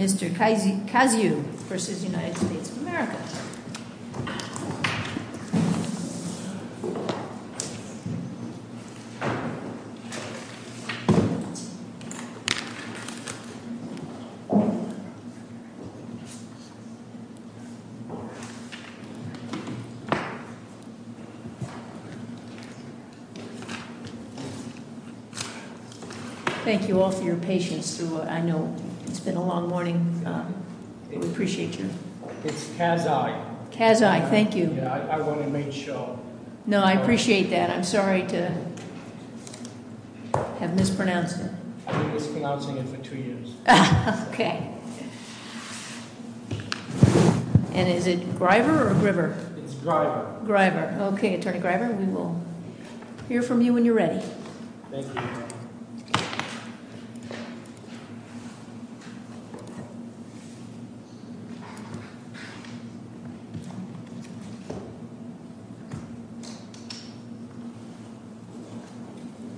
of America. Thank you all for your patience through what I know it's been a long morning, we appreciate you. It's Kazai. Kazai, thank you. I want to make sure. No, I appreciate that. I'm sorry to have mispronounced it. I've been mispronouncing it for two years. And is it Griver or Griver? It's Griver. Griver. Thank you. Thank you. Thank you. Thank you. Thank you. Thank you. Thank you. Thank you. Thank you. Thank you. Thank you. Thank you. Thank you. Thank you. Thank you. Thank you. Thank you. Thank you. Thank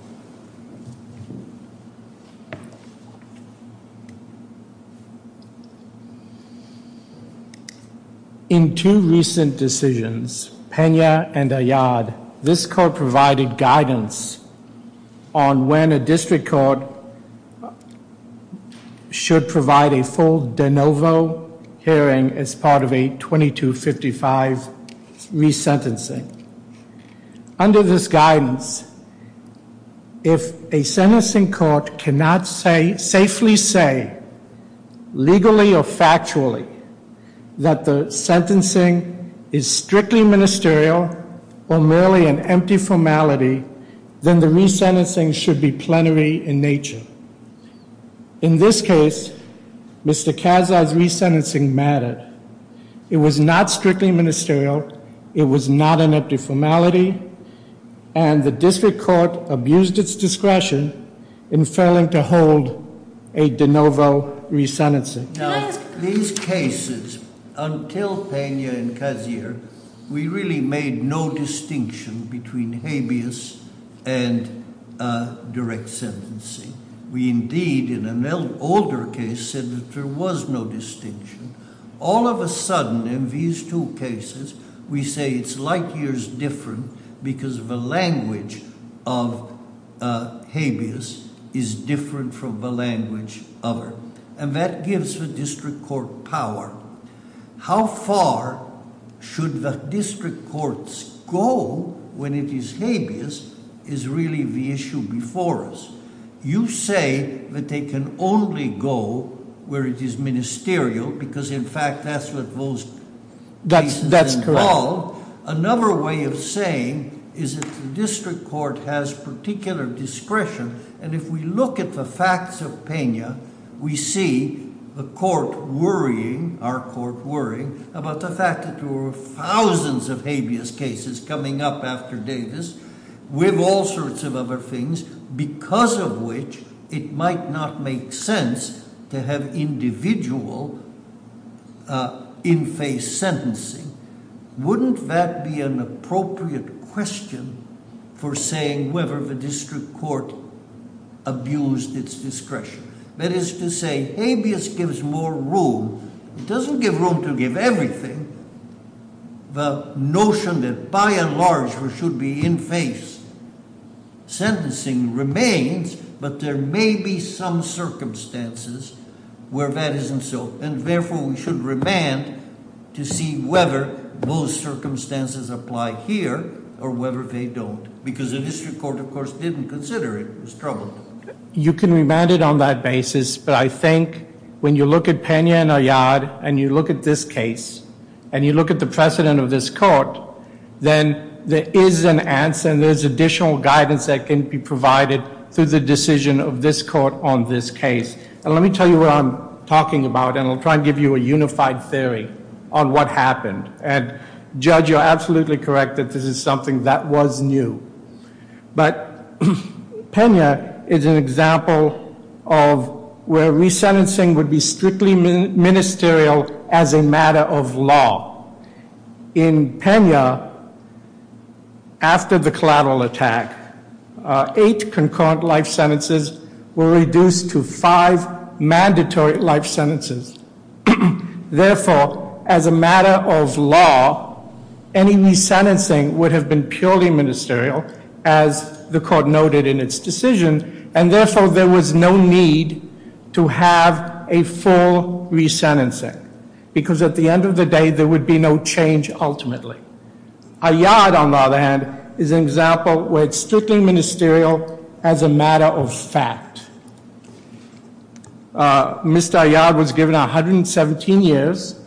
you. Thank you. In two recent decisions, Pena and Ayad, this court provided guidance on when a district court should provide a full de novo hearing as part of a 2255 resentencing. Under this guidance, if a sentencing court cannot safely say, legally or factually, that the sentencing is strictly ministerial or merely an empty formality, then the resentencing should be plenary in nature. In this case, Mr. Kazzai's resentencing mattered. It was not strictly ministerial, it was not an empty formality, and the district court abused its discretion in failing to hold a de novo resentencing. Now, these cases, until Pena and Kazzai, we really made no distinction between habeas and direct sentencing. We indeed, in an older case, said that there was no distinction. All of a sudden, in these two cases, we say it's light years different because the language of habeas is different from the language of er. And that gives the district court power. How far should the district courts go when it is habeas is really the issue before us. You say that they can only go where it is ministerial because in fact, that's what those- That's correct. Another way of saying is that the district court has particular discretion. And if we look at the facts of Pena, we see the court worrying, our court worrying, about the fact that there were thousands of habeas cases coming up after Davis, with all sorts of other things, because of which it might not make sense to have individual in face sentencing. Wouldn't that be an appropriate question for saying whether the district court abused its discretion? That is to say, habeas gives more room. It doesn't give room to give everything. The notion that by and large we should be in face sentencing remains, but there may be some circumstances where that isn't so. And therefore, we should remand to see whether those circumstances apply here or whether they don't. Because the district court, of course, didn't consider it was troubled. You can remand it on that basis, but I think when you look at Pena and Ayad, and you look at this case, and you look at the precedent of this court, then there is an answer and there's additional guidance that can be provided through the decision of this court on this case. And let me tell you what I'm talking about, and I'll try and give you a unified theory on what happened. And Judge, you're absolutely correct that this is something that was new. But Pena is an example of where resentencing would be strictly ministerial as a matter of law. In Pena, after the collateral attack, eight concurrent life sentences were reduced to five mandatory life sentences. Therefore, as a matter of law, any resentencing would have been purely ministerial, as the court noted in its decision, and therefore, there was no need to have a full resentencing. Because at the end of the day, there would be no change ultimately. Ayad, on the other hand, is an example where it's strictly ministerial as a matter of fact. Mr. Ayad was given 117 years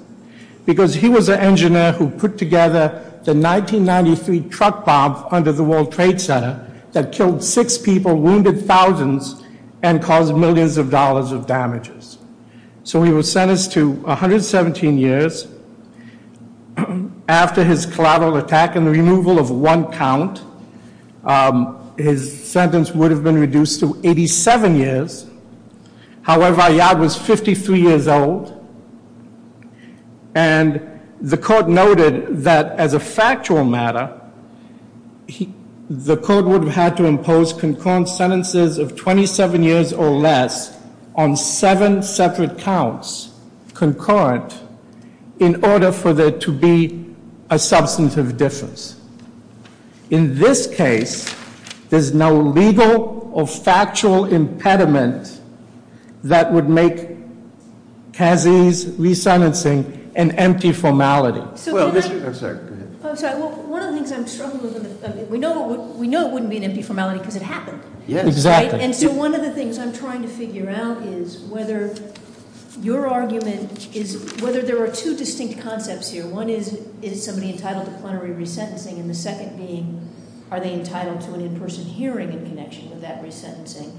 because he was an engineer who put together the 1993 truck bomb under the World Trade Center that killed six people, wounded thousands, and caused millions of dollars of damages. So he was sentenced to 117 years. After his collateral attack and the removal of one count, his sentence would have been reduced to 87 years. However, Ayad was 53 years old. And the court noted that as a factual matter, the court would have had to impose concurrent sentences of 27 years or less on seven separate counts, concurrent, in order for there to be a substantive difference. In this case, there's no legal or factual impediment that would make Kazi's resentencing an empty formality. Well, I'm sorry, go ahead. I'm sorry, well, one of the things I'm struggling with, we know it wouldn't be an empty formality because it happened. Yes, exactly. And so one of the things I'm trying to figure out is whether your argument is whether there are two distinct concepts here. One is, is somebody entitled to plenary resentencing? And the second being, are they entitled to an in-person hearing in connection with that resentencing?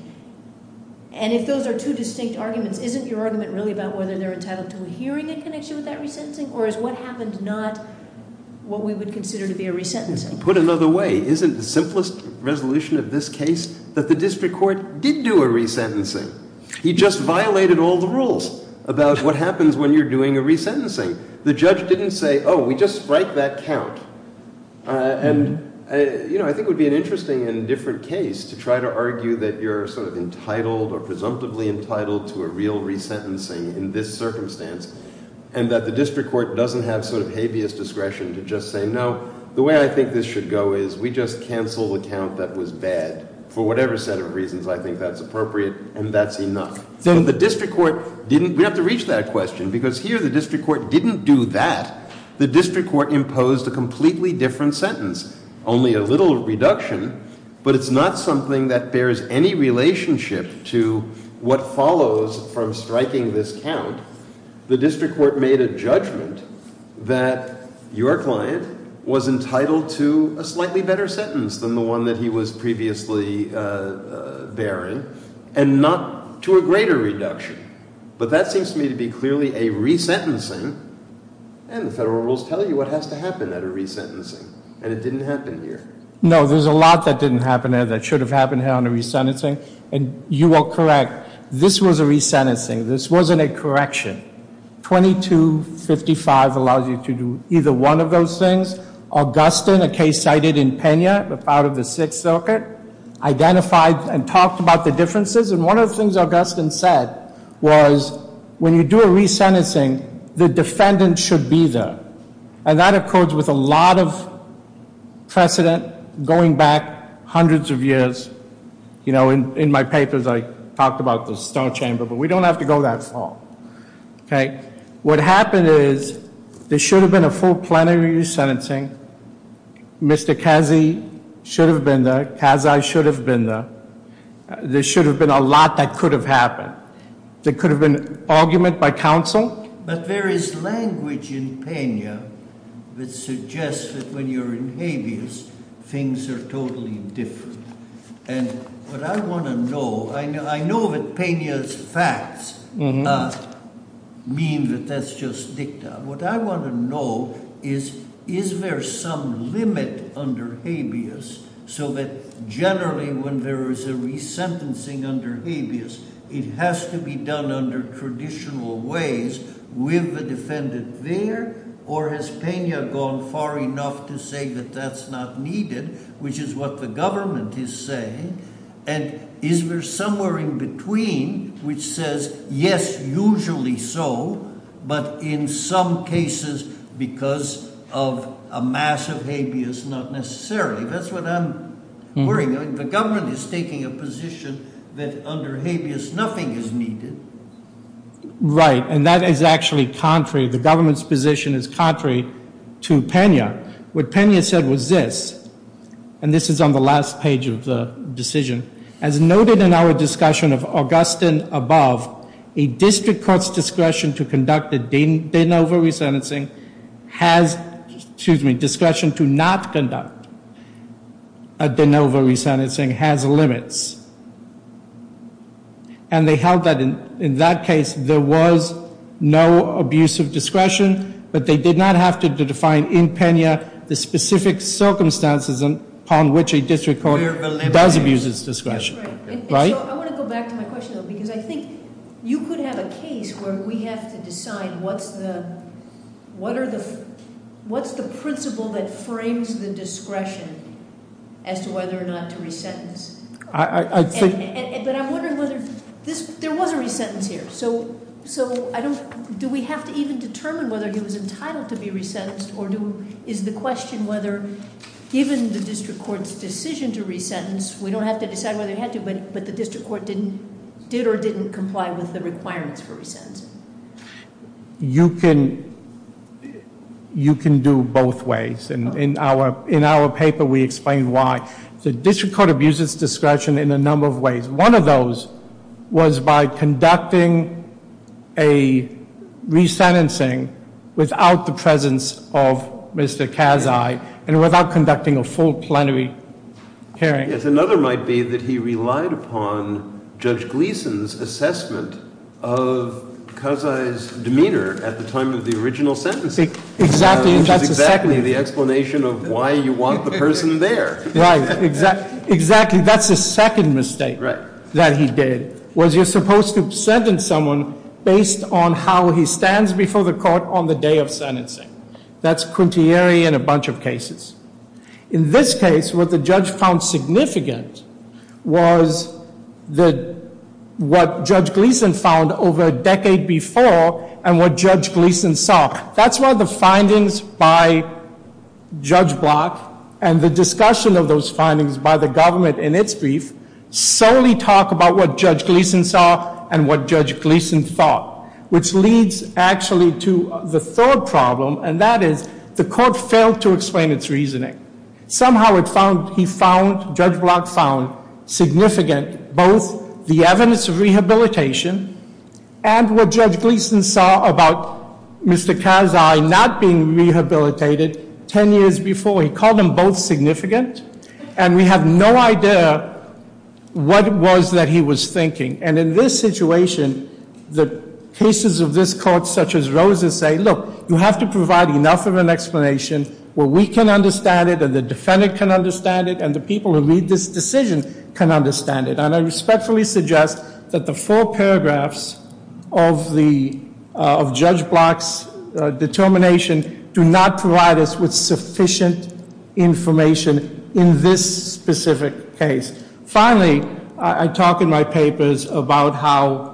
And if those are two distinct arguments, isn't your argument really about whether they're entitled to a hearing in connection with that resentencing? Or is what happened not what we would consider to be a resentencing? Put another way, isn't the simplest resolution of this case that the district court did do a resentencing? He just violated all the rules about what happens when you're doing a resentencing. The judge didn't say, we just spiked that count. And I think it would be an interesting and different case to try to argue that you're sort of entitled or presumptively entitled to a real resentencing in this circumstance. And that the district court doesn't have sort of habeas discretion to just say, no, the way I think this should go is we just cancel the count that was bad. For whatever set of reasons I think that's appropriate, and that's enough. So the district court didn't, we have to reach that question because here the district court didn't do that. The district court imposed a completely different sentence. Only a little reduction, but it's not something that bears any relationship to what follows from striking this count. The district court made a judgment that your client was entitled to a slightly better sentence than the one that he was previously bearing, and not to a greater reduction. But that seems to me to be clearly a resentencing, and the federal rules tell you what has to happen at a resentencing, and it didn't happen here. No, there's a lot that didn't happen here that should have happened here on a resentencing, and you are correct. This was a resentencing. This wasn't a correction. 2255 allows you to do either one of those things. Augustin, a case cited in Pena, a part of the Sixth Circuit, identified and talked about the differences. And one of the things Augustin said was, when you do a resentencing, the defendant should be there. And that occurs with a lot of precedent going back hundreds of years. In my papers, I talked about the stone chamber, but we don't have to go that far, okay? What happened is, there should have been a full plenary resentencing. Mr. Kazi should have been there, Kazai should have been there. There should have been a lot that could have happened. There could have been argument by counsel. But there is language in Pena that suggests that when you're in habeas, things are totally different. And what I want to know, I know that Pena's facts mean that that's just dicta. What I want to know is, is there some limit under habeas so that generally when there is a resentencing under habeas, it has to be done under traditional ways with the defendant there? Or has Pena gone far enough to say that that's not needed, which is what the government is saying? And is there somewhere in between which says, yes, usually so. But in some cases, because of a massive habeas, not necessarily. That's what I'm worrying. The government is taking a position that under habeas, nothing is needed. Right, and that is actually contrary. The government's position is contrary to Pena. What Pena said was this, and this is on the last page of the decision. As noted in our discussion of Augustin above, a district court's discretion to conduct a de novo resentencing has, excuse me, discretion to not conduct a de novo resentencing has limits. And they held that in that case, there was no abuse of discretion, but they did not have to define in Pena the specific circumstances upon which a district court does abuse its discretion. Right? I want to go back to my question, though, because I think you could have a case where we have to decide what's the, what's the principle that frames the discretion as to whether or not to resentence? I think- But I'm wondering whether, there was a resentence here. So do we have to even determine whether he was entitled to be resentenced, or is the question whether, given the district court's decision to resentence, we don't have to decide whether he had to, but the district court did or didn't comply with the requirements for resentencing? You can do both ways, and in our paper we explain why. The district court abuses discretion in a number of ways. One of those was by conducting a resentencing without the presence of Mr. Kazai, and without conducting a full plenary hearing. Yes, another might be that he relied upon Judge Gleeson's assessment of Kazai's demeanor at the time of the original sentencing. Exactly, and that's the second- Which is exactly the explanation of why you want the person there. Right, exactly, that's the second mistake that he did, was you're supposed to sentence someone based on how he stands before the court on the day of sentencing. That's contrary in a bunch of cases. In this case, what the judge found significant was what Judge Gleeson found over a decade before, and what Judge Gleeson saw. That's why the findings by Judge Block, and the discussion of those findings by the government in its brief, solely talk about what Judge Gleeson saw and what Judge Gleeson thought. Which leads actually to the third problem, and that is the court failed to explain its reasoning. Somehow it found, he found, Judge Block found significant both the evidence of rehabilitation, and what Judge Gleeson saw about Mr. Kazai not being rehabilitated ten years before. He called them both significant, and we have no idea what it was that he was thinking. And in this situation, the cases of this court such as Rose's say, look, you have to provide enough of an explanation where we can understand it, and the defendant can understand it, and the people who read this decision can understand it. And I respectfully suggest that the four paragraphs of Judge Block's determination do not provide us with sufficient information in this specific case. Finally, I talk in my papers about how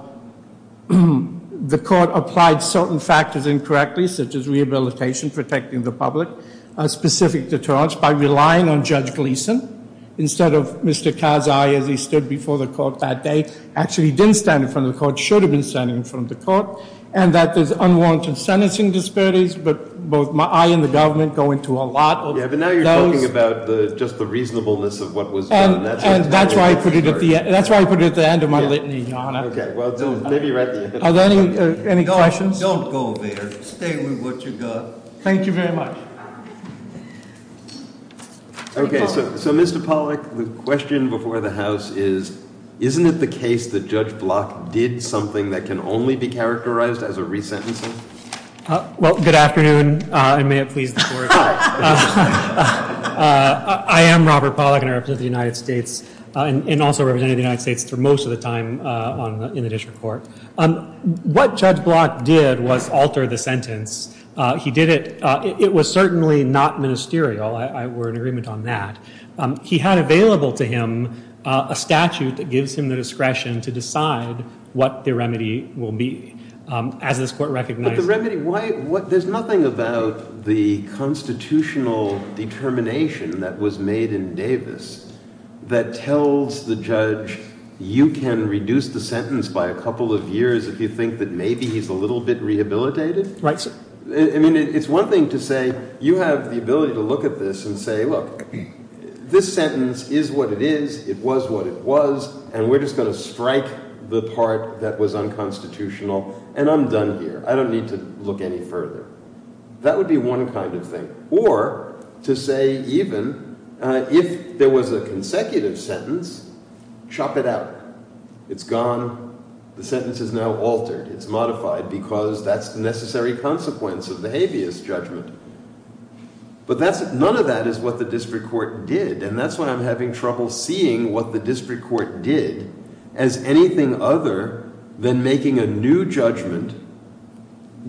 the court applied certain factors incorrectly, such as rehabilitation, protecting the public, a specific deterrence by relying on Judge Gleeson. Instead of Mr. Kazai, as he stood before the court that day, actually didn't stand in front of the court, should have been standing in front of the court. And that there's unwarranted sentencing disparities, but both I and the government go into a lot of those. I'm talking about just the reasonableness of what was done. And that's why I put it at the end of my litany, Your Honor. Okay, well, maybe right at the end. Are there any questions? Don't go there. Stay with what you've got. Thank you very much. Okay, so Mr. Pollack, the question before the House is, isn't it the case that Judge Block did something that can only be characterized as a resentencing? Well, good afternoon, and may it please the Court. I am Robert Pollack, and I represent the United States, and also represented the United States for most of the time in the district court. What Judge Block did was alter the sentence. He did it, it was certainly not ministerial, we're in agreement on that. He had available to him a statute that gives him the discretion to decide what the remedy will be. As this court recognized- But the remedy, there's nothing about the constitutional determination that was made in Davis that tells the judge you can reduce the sentence by a couple of years if you think that maybe he's a little bit rehabilitated. Right, sir. I mean, it's one thing to say, you have the ability to look at this and say, look, this sentence is what it is, it was what it was, and we're just going to strike the part that was unconstitutional, and I'm done here. I don't need to look any further. That would be one kind of thing. Or to say even, if there was a consecutive sentence, chop it out. It's gone, the sentence is now altered, it's modified because that's the necessary consequence of the habeas judgment. But none of that is what the district court did, and that's why I'm having trouble seeing what the district court did as anything other than making a new judgment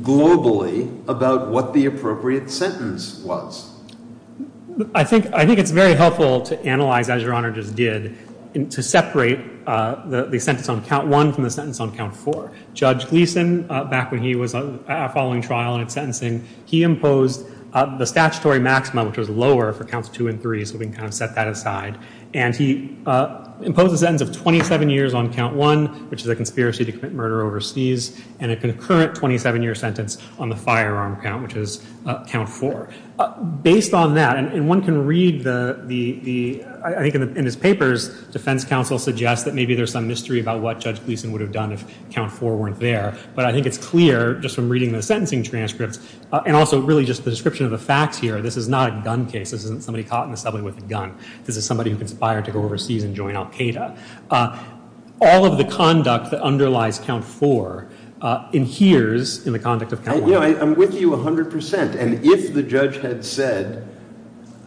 globally about what the appropriate sentence was. I think it's very helpful to analyze, as Your Honor just did, to separate the sentence on count one from the sentence on count four. Judge Gleeson, back when he was following trial and sentencing, he imposed the statutory maximum, which was lower for counts two and three, so we can kind of set that aside. And he imposed a sentence of 27 years on count one, which is a conspiracy to commit murder overseas, and a concurrent 27-year sentence on the firearm count, which is count four. Based on that, and one can read the, I think in his papers, defense counsel suggests that maybe there's some mystery about what Judge Gleeson would have done if count four weren't there. But I think it's clear, just from reading the sentencing transcripts, and also really just the description of the facts here, this is not a gun case. This isn't somebody caught in the subway with a gun. This is somebody who conspired to go overseas and join Al-Qaeda. All of the conduct that underlies count four adheres in the conduct of count one. I'm with you 100%. And if the judge had said,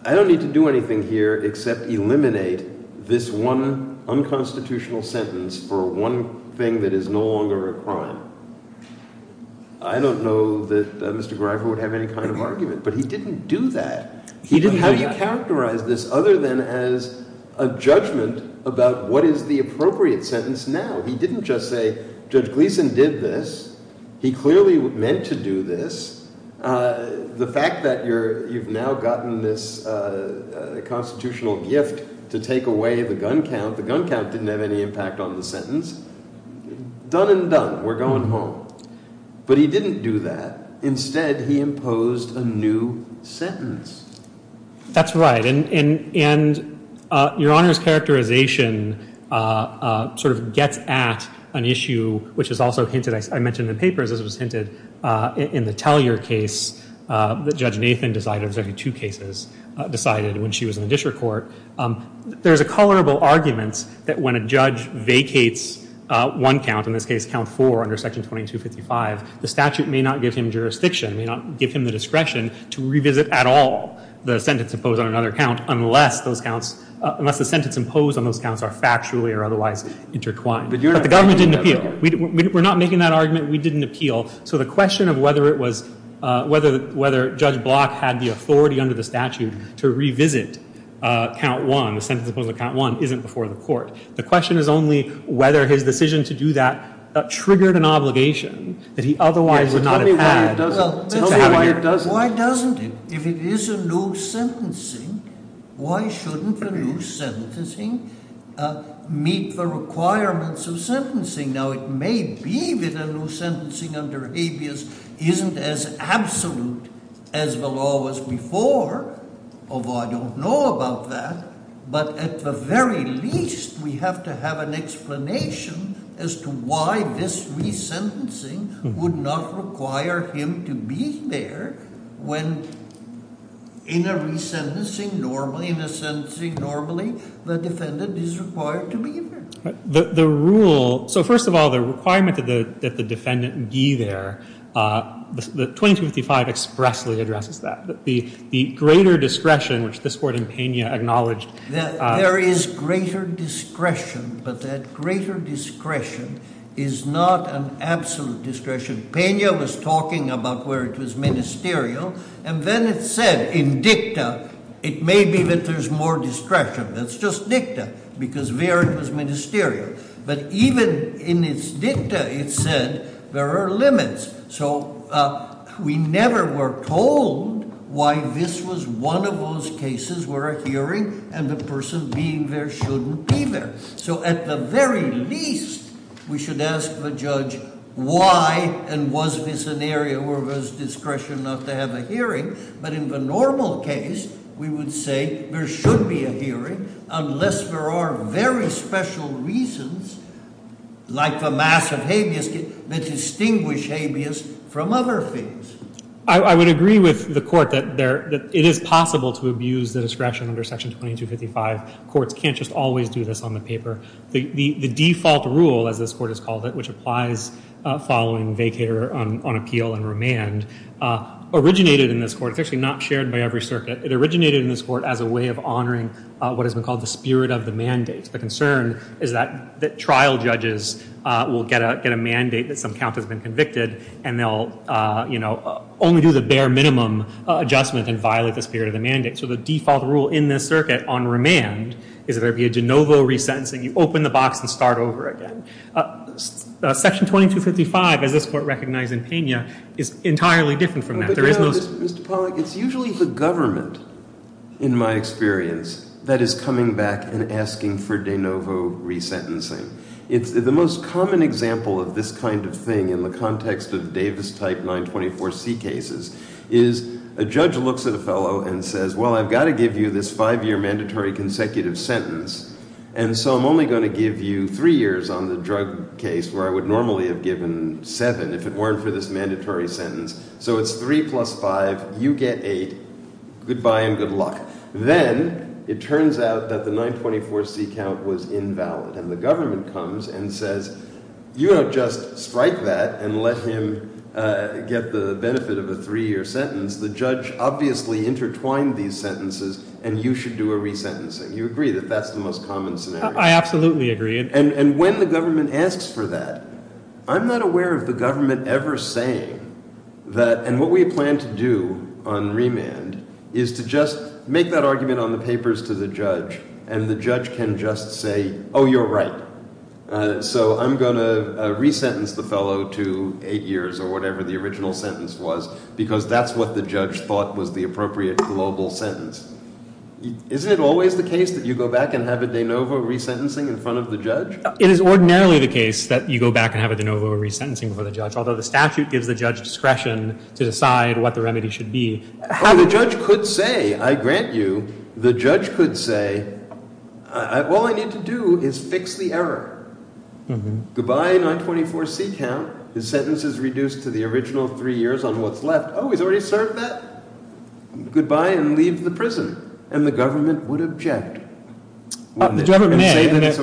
I don't need to do anything here except eliminate this one unconstitutional sentence for one thing that is no longer a crime, I don't know that Mr. Greifer would have any kind of argument. But he didn't do that. He didn't have you characterize this other than as a judgment about what is the appropriate sentence now. He didn't just say, Judge Gleeson did this. He clearly meant to do this. The fact that you've now gotten this constitutional gift to take away the gun count, the gun count didn't have any impact on the sentence. Done and done. We're going home. But he didn't do that. Instead, he imposed a new sentence. That's right. And Your Honor's characterization sort of gets at an issue which is also hinted, I mentioned in the papers, this was hinted in the Tellyer case that Judge Nathan decided, there was actually two cases, decided when she was in the district court. There's a colorable argument that when a judge vacates one count, in this case count four under section 2255, the statute may not give him jurisdiction, may not give him the discretion to revisit at all the sentence imposed on another count unless the sentence imposed on those counts are factually or otherwise intertwined. But the government didn't appeal. We're not making that argument. We didn't appeal. So the question of whether Judge Block had the authority under the statute to revisit count one, the sentence imposed on count one, isn't before the court. The question is only whether his decision to do that triggered an obligation that he otherwise would not have had. Tell me why it doesn't. Why doesn't it? If it is a loose sentencing, why shouldn't a loose sentencing meet the requirements of sentencing? Now, it may be that a loose sentencing under habeas isn't as absolute as the law was before, although I don't know about that. But at the very least, we have to have an explanation as to why this resentencing would not require him to be there when in a resentencing normally, in a sentencing normally, the defendant is required to be there. The rule – so first of all, the requirement that the defendant be there, the 2255 expressly addresses that. The greater discretion, which this court in Pena acknowledged. There is greater discretion, but that greater discretion is not an absolute discretion. Pena was talking about where it was ministerial, and then it said in dicta it may be that there's more discretion. That's just dicta, because there it was ministerial. But even in its dicta, it said there are limits. So we never were told why this was one of those cases where a hearing and the person being there shouldn't be there. So at the very least, we should ask the judge why and was this an area where there was discretion not to have a hearing. But in the normal case, we would say there should be a hearing unless there are very special reasons like the massive habeas that distinguish habeas from other things. I would agree with the court that it is possible to abuse the discretion under Section 2255. Courts can't just always do this on the paper. The default rule, as this court has called it, which applies following vacator on appeal and remand, originated in this court. It's actually not shared by every circuit. It originated in this court as a way of honoring what has been called the spirit of the mandate. The concern is that trial judges will get a mandate that some count has been convicted, and they'll only do the bare minimum adjustment and violate the spirit of the mandate. So the default rule in this circuit on remand is that there be a de novo resentencing. You open the box and start over again. Section 2255, as this court recognized in Pena, is entirely different from that. There is no— Mr. Pollack, it's usually the government, in my experience, that is coming back and asking for de novo resentencing. The most common example of this kind of thing in the context of Davis-type 924C cases is a judge looks at a fellow and says, well, I've got to give you this five-year mandatory consecutive sentence, and so I'm only going to give you three years on the drug case where I would normally have given seven if it weren't for this mandatory sentence. So it's three plus five. You get eight. Goodbye and good luck. Then it turns out that the 924C count was invalid, and the government comes and says, you don't just strike that and let him get the benefit of a three-year sentence. The judge obviously intertwined these sentences, and you should do a resentencing. You agree that that's the most common scenario? I absolutely agree. And when the government asks for that, I'm not aware of the government ever saying that— You make that argument on the papers to the judge, and the judge can just say, oh, you're right. So I'm going to resentence the fellow to eight years or whatever the original sentence was, because that's what the judge thought was the appropriate global sentence. Isn't it always the case that you go back and have a de novo resentencing in front of the judge? It is ordinarily the case that you go back and have a de novo resentencing before the judge, although the statute gives the judge discretion to decide what the remedy should be. Oh, the judge could say, I grant you, the judge could say, all I need to do is fix the error. Goodbye, 924C count. The sentence is reduced to the original three years on what's left. Oh, he's already served that? Goodbye and leave the prison. And the government would object. The government may. That's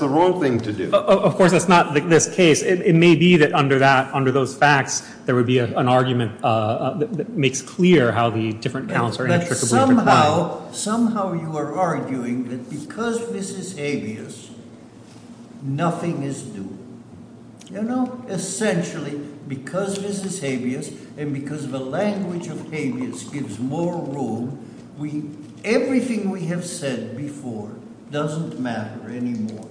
the wrong thing to do. Of course, that's not this case. It may be that under that, under those facts, there would be an argument that makes clear how the different counts are intricately defined. But somehow, somehow you are arguing that because this is habeas, nothing is due. You know, essentially, because this is habeas and because the language of habeas gives more room, everything we have said before doesn't matter anymore,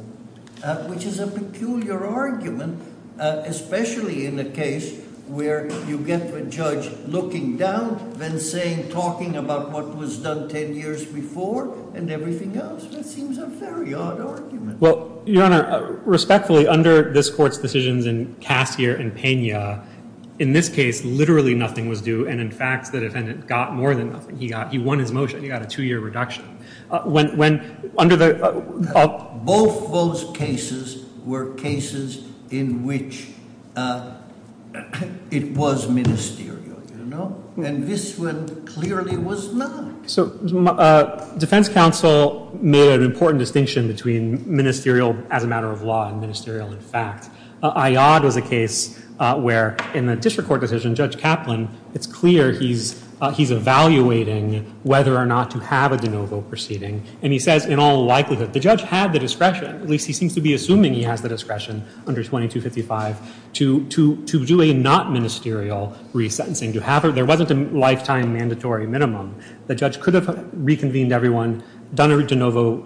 which is a peculiar argument, especially in a case where you get the judge looking down, then saying, talking about what was done 10 years before, and everything else. That seems a very odd argument. Well, Your Honor, respectfully, under this Court's decisions in Cassier and Pena, in this case, literally nothing was due. And, in fact, the defendant got more than nothing. He won his motion. He got a two-year reduction. Both those cases were cases in which it was ministerial, you know? And this one clearly was not. So defense counsel made an important distinction between ministerial as a matter of law and ministerial in fact. Iod was a case where, in the district court decision, Judge Kaplan, it's clear he's evaluating whether or not to have a de novo proceeding. And he says, in all likelihood, the judge had the discretion, at least he seems to be assuming he has the discretion under 2255, to do a not ministerial resentencing. There wasn't a lifetime mandatory minimum. The judge could have reconvened everyone, done a de novo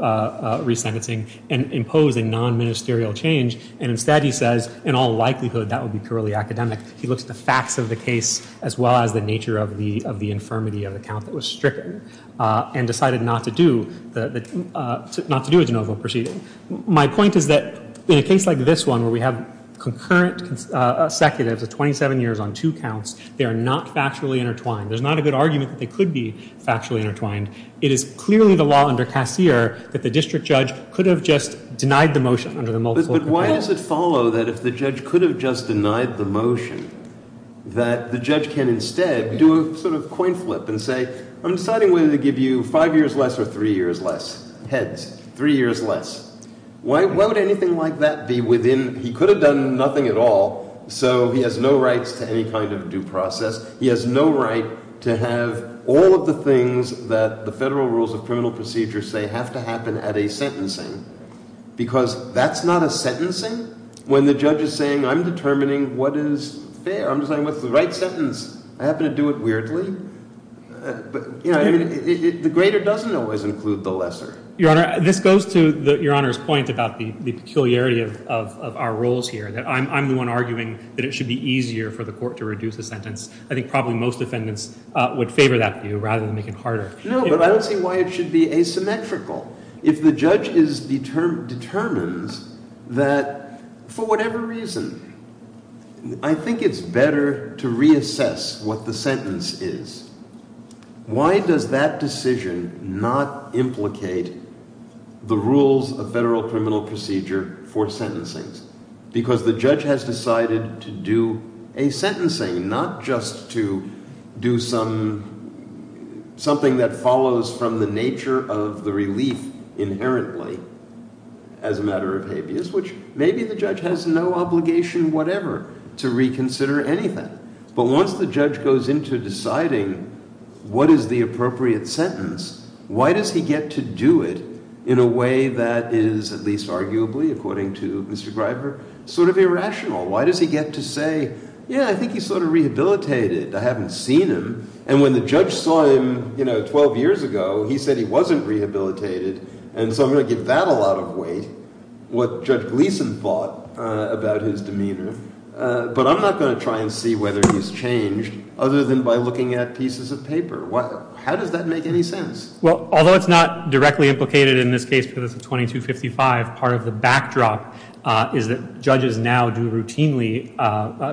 resentencing, and imposed a non-ministerial change. And, instead, he says, in all likelihood, that would be purely academic. He looks at the facts of the case, as well as the nature of the infirmity of the count that was stricken, and decided not to do a de novo proceeding. My point is that, in a case like this one, where we have concurrent consecutives of 27 years on two counts, they are not factually intertwined. There's not a good argument that they could be factually intertwined. It is clearly the law under Cassier that the district judge could have just denied the motion under the multiple complaint. Why does it follow that if the judge could have just denied the motion, that the judge can, instead, do a sort of coin flip and say, I'm deciding whether to give you five years less or three years less, heads, three years less. Why would anything like that be within, he could have done nothing at all, so he has no rights to any kind of due process. He has no right to have all of the things that the federal rules of criminal procedure say have to happen at a sentencing, because that's not a sentencing when the judge is saying, I'm determining what is fair. I'm deciding what's the right sentence. I happen to do it weirdly. But, you know, the greater doesn't always include the lesser. Your Honor, this goes to Your Honor's point about the peculiarity of our roles here, that I'm the one arguing that it should be easier for the court to reduce the sentence. I think probably most defendants would favor that view rather than make it harder. No, but I don't see why it should be asymmetrical. If the judge determines that, for whatever reason, I think it's better to reassess what the sentence is, why does that decision not implicate the rules of federal criminal procedure for sentencing? Because the judge has decided to do a sentencing, not just to do something that follows from the nature of the relief inherently as a matter of habeas, which maybe the judge has no obligation whatever to reconsider anything. But once the judge goes into deciding what is the appropriate sentence, why does he get to do it in a way that is, at least arguably, according to Mr. Greiber, sort of irrational? Why does he get to say, yeah, I think he's sort of rehabilitated. I haven't seen him. And when the judge saw him 12 years ago, he said he wasn't rehabilitated. And so I'm going to give that a lot of weight, what Judge Gleeson thought about his demeanor. But I'm not going to try and see whether he's changed other than by looking at pieces of paper. How does that make any sense? Well, although it's not directly implicated in this case because it's a 2255, part of the backdrop is that judges now do routinely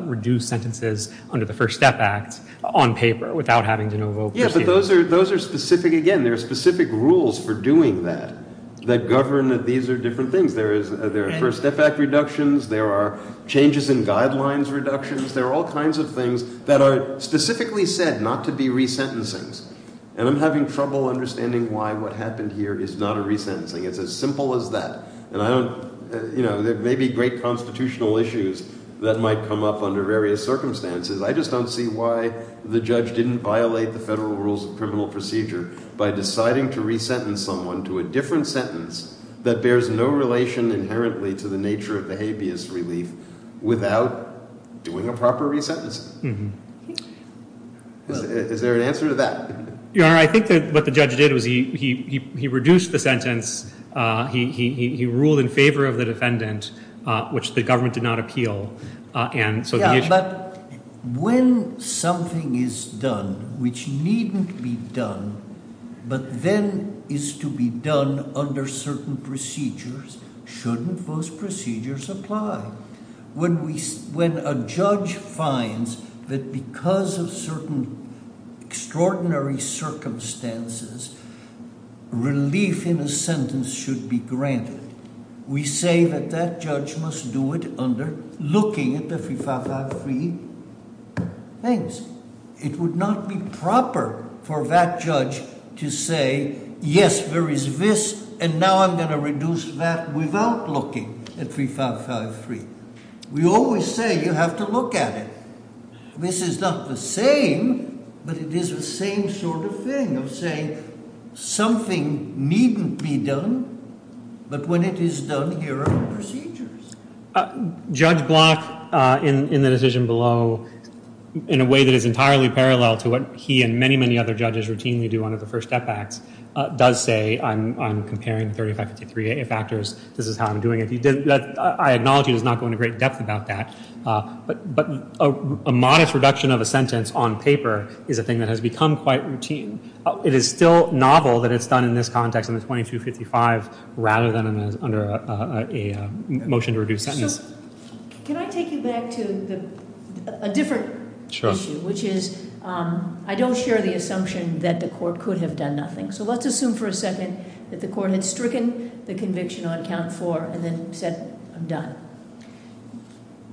reduce sentences under the First Step Act on paper without having to know vote. Yeah, but those are specific. Again, there are specific rules for doing that that govern that these are different things. There are First Step Act reductions. There are changes in guidelines reductions. There are all kinds of things that are specifically said not to be resentencings. And I'm having trouble understanding why what happened here is not a resentencing. It's as simple as that. And I don't, you know, there may be great constitutional issues that might come up under various circumstances. I just don't see why the judge didn't violate the federal rules of criminal procedure by deciding to resentence someone to a different sentence that bears no relation inherently to the nature of the habeas relief without doing a proper resentencing. Is there an answer to that? Your Honor, I think that what the judge did was he reduced the sentence. He ruled in favor of the defendant, which the government did not appeal. Yeah, but when something is done which needn't be done but then is to be done under certain procedures, shouldn't those procedures apply? When a judge finds that because of certain extraordinary circumstances, relief in a sentence should be granted, we say that that judge must do it under looking at the 3553 things. It would not be proper for that judge to say, yes, there is this, and now I'm going to reduce that without looking at 3553. We always say you have to look at it. This is not the same, but it is the same sort of thing of saying something needn't be done, but when it is done, here are the procedures. Judge Block, in the decision below, in a way that is entirely parallel to what he and many, many other judges routinely do under the First Step Acts, does say I'm comparing 3553 factors. This is how I'm doing it. I acknowledge he does not go into great depth about that, but a modest reduction of a sentence on paper is a thing that has become quite routine. It is still novel that it's done in this context in the 2255 rather than under a motion to reduce sentence. So can I take you back to a different issue, which is I don't share the assumption that the court could have done nothing. So let's assume for a second that the court had stricken the conviction on count four and then said I'm done.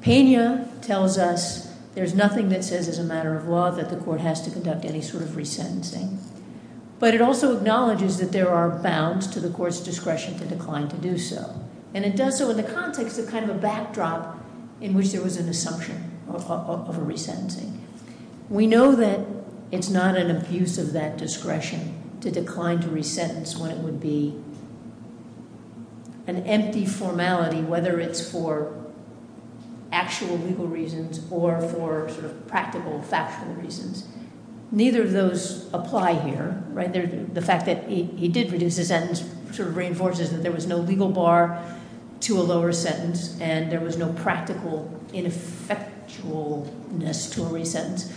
Pena tells us there's nothing that says as a matter of law that the court has to conduct any sort of resentencing. But it also acknowledges that there are bounds to the court's discretion to decline to do so. And it does so in the context of kind of a backdrop in which there was an assumption of a resentencing. We know that it's not an abuse of that discretion to decline to resentence when it would be an empty formality, whether it's for actual legal reasons or for sort of practical, factual reasons. Neither of those apply here, right? The fact that he did reduce his sentence sort of reinforces that there was no legal bar to a lower sentence. And there was no practical ineffectualness to a resentence.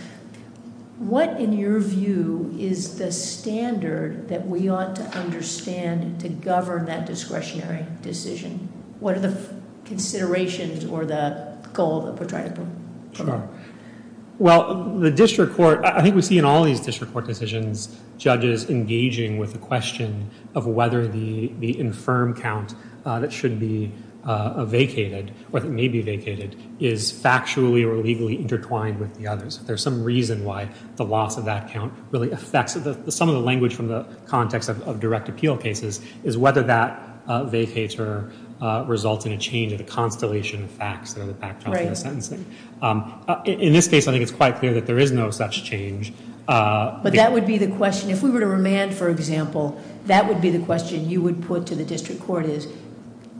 What, in your view, is the standard that we ought to understand to govern that discretionary decision? What are the considerations or the goal that we're trying to put? Well, the district court, I think we see in all these district court decisions, judges engaging with the question of whether the infirm count that should be vacated or that may be vacated is factually or legally intertwined with the others. There's some reason why the loss of that count really affects some of the language from the context of direct appeal cases is whether that vacates or results in a change of the constellation of facts that are the backdrop to the sentencing. Right. In this case, I think it's quite clear that there is no such change. But that would be the question, if we were to remand, for example, that would be the question you would put to the district court is,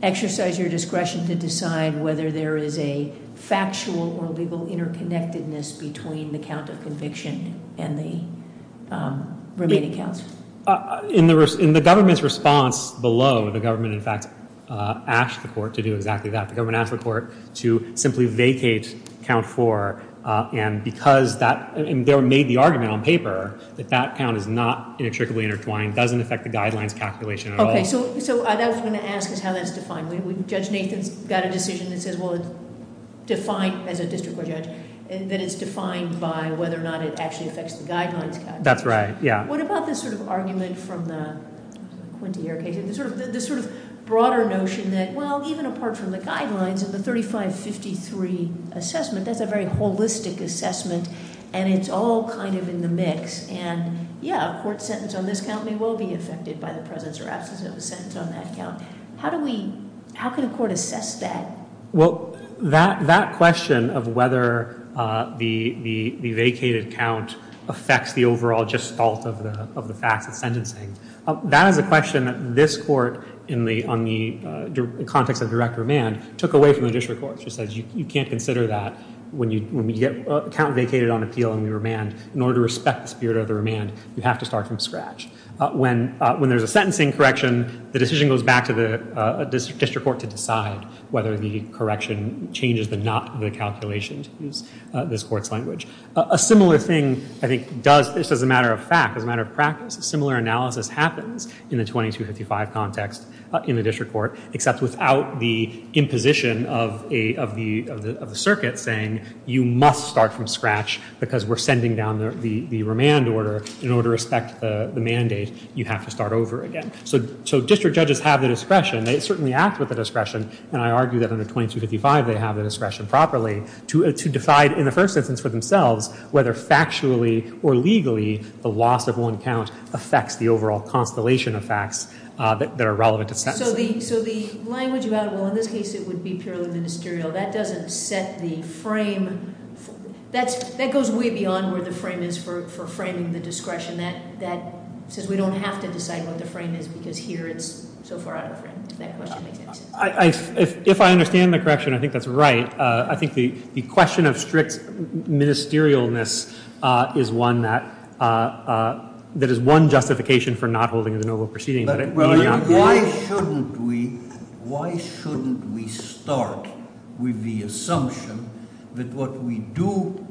exercise your discretion to decide whether there is a factual or legal interconnectedness between the count of conviction and the remaining counts. In the government's response below, the government, in fact, asked the court to do exactly that. The government asked the court to simply vacate count four. And because that, and they made the argument on paper that that count is not inextricably intertwined, doesn't affect the guidelines calculation at all. Okay, so I was going to ask is how that's defined. Judge Nathan's got a decision that says, well, it's defined as a district court judge, that it's defined by whether or not it actually affects the guidelines calculation. That's right, yeah. What about this sort of argument from the Quintier case? The sort of broader notion that, well, even apart from the guidelines and the 3553 assessment, that's a very holistic assessment, and it's all kind of in the mix. And, yeah, a court sentence on this count may well be affected by the presence or absence of a sentence on that count. How do we, how can a court assess that? Well, that question of whether the vacated count affects the overall gestalt of the facts of sentencing, that is a question that this court in the context of direct remand took away from the district court. It just says you can't consider that when you get a count vacated on appeal in the remand. In order to respect the spirit of the remand, you have to start from scratch. When there's a sentencing correction, the decision goes back to the district court to decide whether the correction changes the not of the calculation, to use this court's language. A similar thing, I think, does, just as a matter of fact, as a matter of practice, a similar analysis happens in the 2255 context in the district court, except without the imposition of the circuit saying you must start from scratch because we're sending down the remand order. In order to respect the mandate, you have to start over again. So district judges have the discretion. They certainly act with the discretion, and I argue that under 2255 they have the discretion properly to decide in the first instance for themselves whether factually or legally the loss of one count affects the overall constellation of facts that are relevant to sentencing. So the language about, well, in this case it would be purely ministerial, that doesn't set the frame. That goes way beyond where the frame is for framing the discretion. That says we don't have to decide what the frame is because here it's so far out of the frame, if that question makes sense. If I understand the correction, I think that's right. I think the question of strict ministerialness is one that is one justification for not holding a de novo proceeding. Why shouldn't we start with the assumption that what we do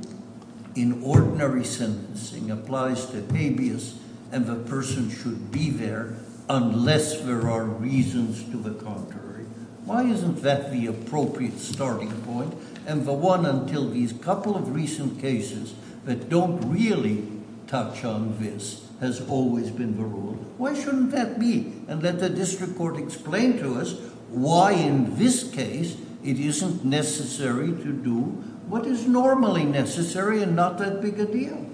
in ordinary sentencing applies to habeas and the person should be there unless there are reasons to the contrary? Why isn't that the appropriate starting point? And the one until these couple of recent cases that don't really touch on this has always been the rule. Why shouldn't that be? And let the district court explain to us why in this case it isn't necessary to do what is normally necessary and not that big a deal.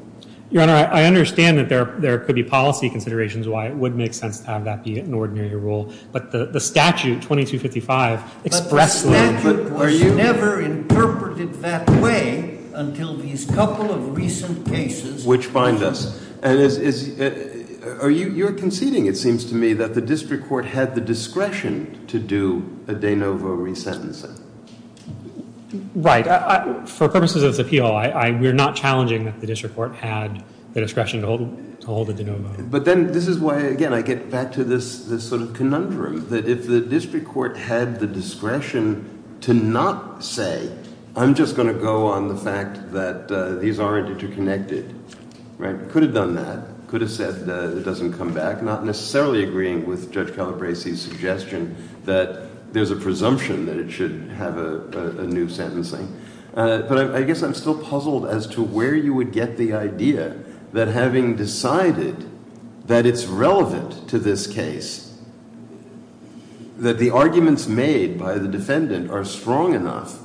Your Honor, I understand that there could be policy considerations why it would make sense to have that be an ordinary rule. But the statute 2255 expressly- But the statute was never interpreted that way until these couple of recent cases- Which bind us. You're conceding, it seems to me, that the district court had the discretion to do a de novo resentencing. Right. For purposes of this appeal, we're not challenging that the district court had the discretion to hold a de novo. But then this is why, again, I get back to this sort of conundrum, that if the district court had the discretion to not say, I'm just going to go on the fact that these aren't interconnected. Right. Could have done that. Could have said it doesn't come back. Not necessarily agreeing with Judge Calabresi's suggestion that there's a presumption that it should have a new sentencing. But I guess I'm still puzzled as to where you would get the idea that having decided that it's relevant to this case, that the arguments made by the defendant are strong enough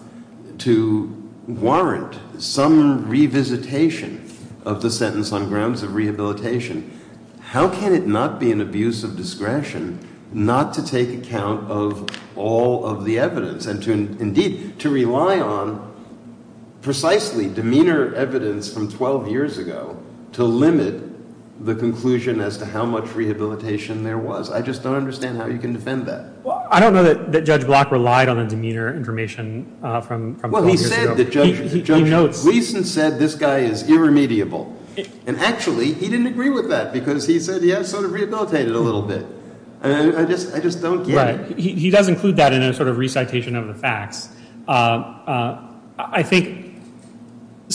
to warrant some revisitation of the sentence on grounds of rehabilitation. How can it not be an abuse of discretion not to take account of all of the evidence? And indeed, to rely on precisely demeanor evidence from 12 years ago to limit the conclusion as to how much rehabilitation there was. I just don't understand how you can defend that. Well, I don't know that Judge Block relied on the demeanor information from 12 years ago. Well, he said that Judge Gleason said this guy is irremediable. And actually, he didn't agree with that because he said he has sort of rehabilitated a little bit. I just don't get it. Right. He does include that in a sort of recitation of the facts. I think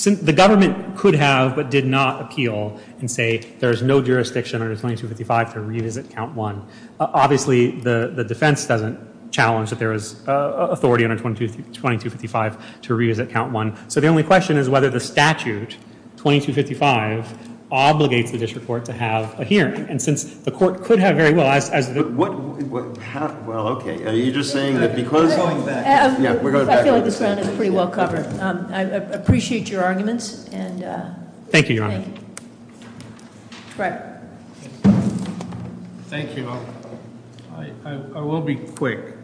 the government could have but did not appeal and say there's no jurisdiction under 2255 to revisit count one. Obviously, the defense doesn't challenge that there is authority under 2255 to revisit count one. So the only question is whether the statute, 2255, obligates the district court to have a hearing. And since the court could have very well as the- Well, okay. Are you just saying that because- We're going back. Yeah, we're going back. I feel like this round is pretty well covered. I appreciate your arguments and- Thank you, Your Honor. Thank you. Greg. Thank you. I will be quick.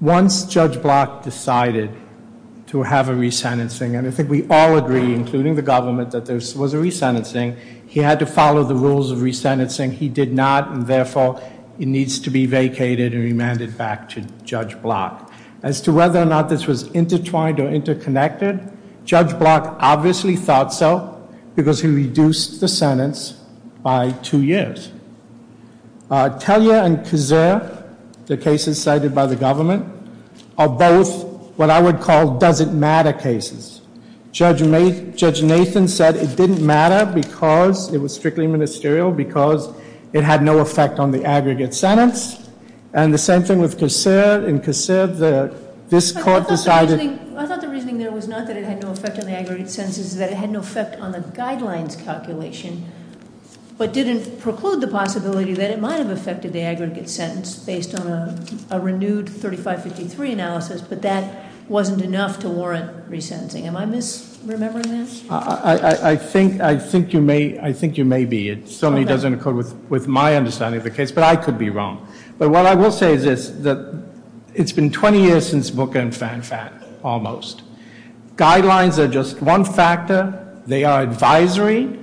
Once Judge Block decided to have a resentencing, and I think we all agree, including the government, that there was a resentencing, he had to follow the rules of resentencing. He did not, and therefore, it needs to be vacated and remanded back to Judge Block. As to whether or not this was intertwined or interconnected, Judge Block obviously thought so because he reduced the sentence by two years. Tellyer and Kosser, the cases cited by the government, are both what I would call doesn't matter cases. Judge Nathan said it didn't matter because it was strictly ministerial, because it had no effect on the aggregate sentence. And the same thing with Kosser. In Kosser, this court decided- I thought the reasoning there was not that it had no effect on the aggregate sentence. The case is that it had no effect on the guidelines calculation, but didn't preclude the possibility that it might have affected the aggregate sentence based on a renewed 3553 analysis. But that wasn't enough to warrant resentencing. Am I misremembering that? I think you may be. It certainly doesn't occur with my understanding of the case, but I could be wrong. But what I will say is this, that it's been 20 years since Booker and FanFat, almost. Guidelines are just one factor. They are advisory,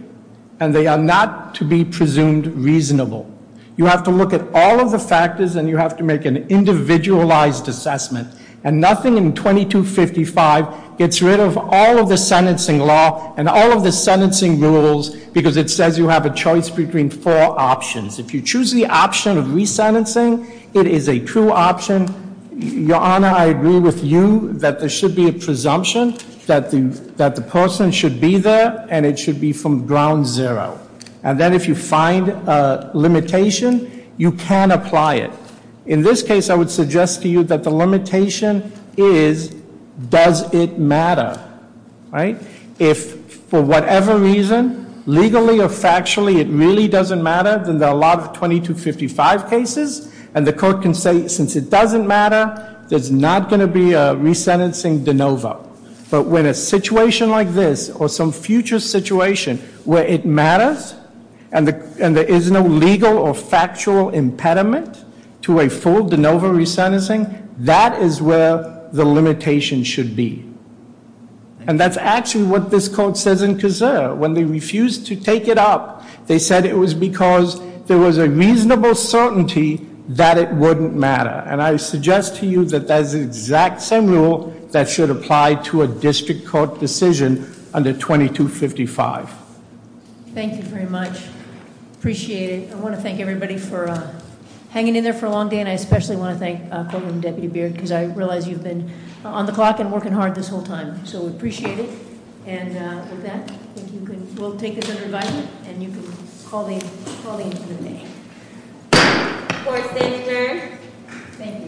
and they are not to be presumed reasonable. You have to look at all of the factors, and you have to make an individualized assessment. And nothing in 2255 gets rid of all of the sentencing law and all of the sentencing rules because it says you have a choice between four options. If you choose the option of resentencing, it is a true option. Your Honor, I agree with you that there should be a presumption that the person should be there, and it should be from ground zero. And then if you find a limitation, you can apply it. In this case, I would suggest to you that the limitation is, does it matter, right? If for whatever reason, legally or factually, it really doesn't matter, then there are a lot of 2255 cases. And the court can say, since it doesn't matter, there's not going to be a resentencing de novo. But when a situation like this, or some future situation where it matters, and there is no legal or factual impediment to a full de novo resentencing, that is where the limitation should be. And that's actually what this court says in Cazur. When they refused to take it up, they said it was because there was a reasonable certainty that it wouldn't matter. And I suggest to you that that is the exact same rule that should apply to a district court decision under 2255. Thank you very much. Appreciate it. I want to thank everybody for hanging in there for a long day. And I especially want to thank Deputy Beard, because I realize you've been on the clock and working hard this whole time. So we appreciate it. And with that, we'll take it under advisement. And you can call the meeting. Court is adjourned. Thank you.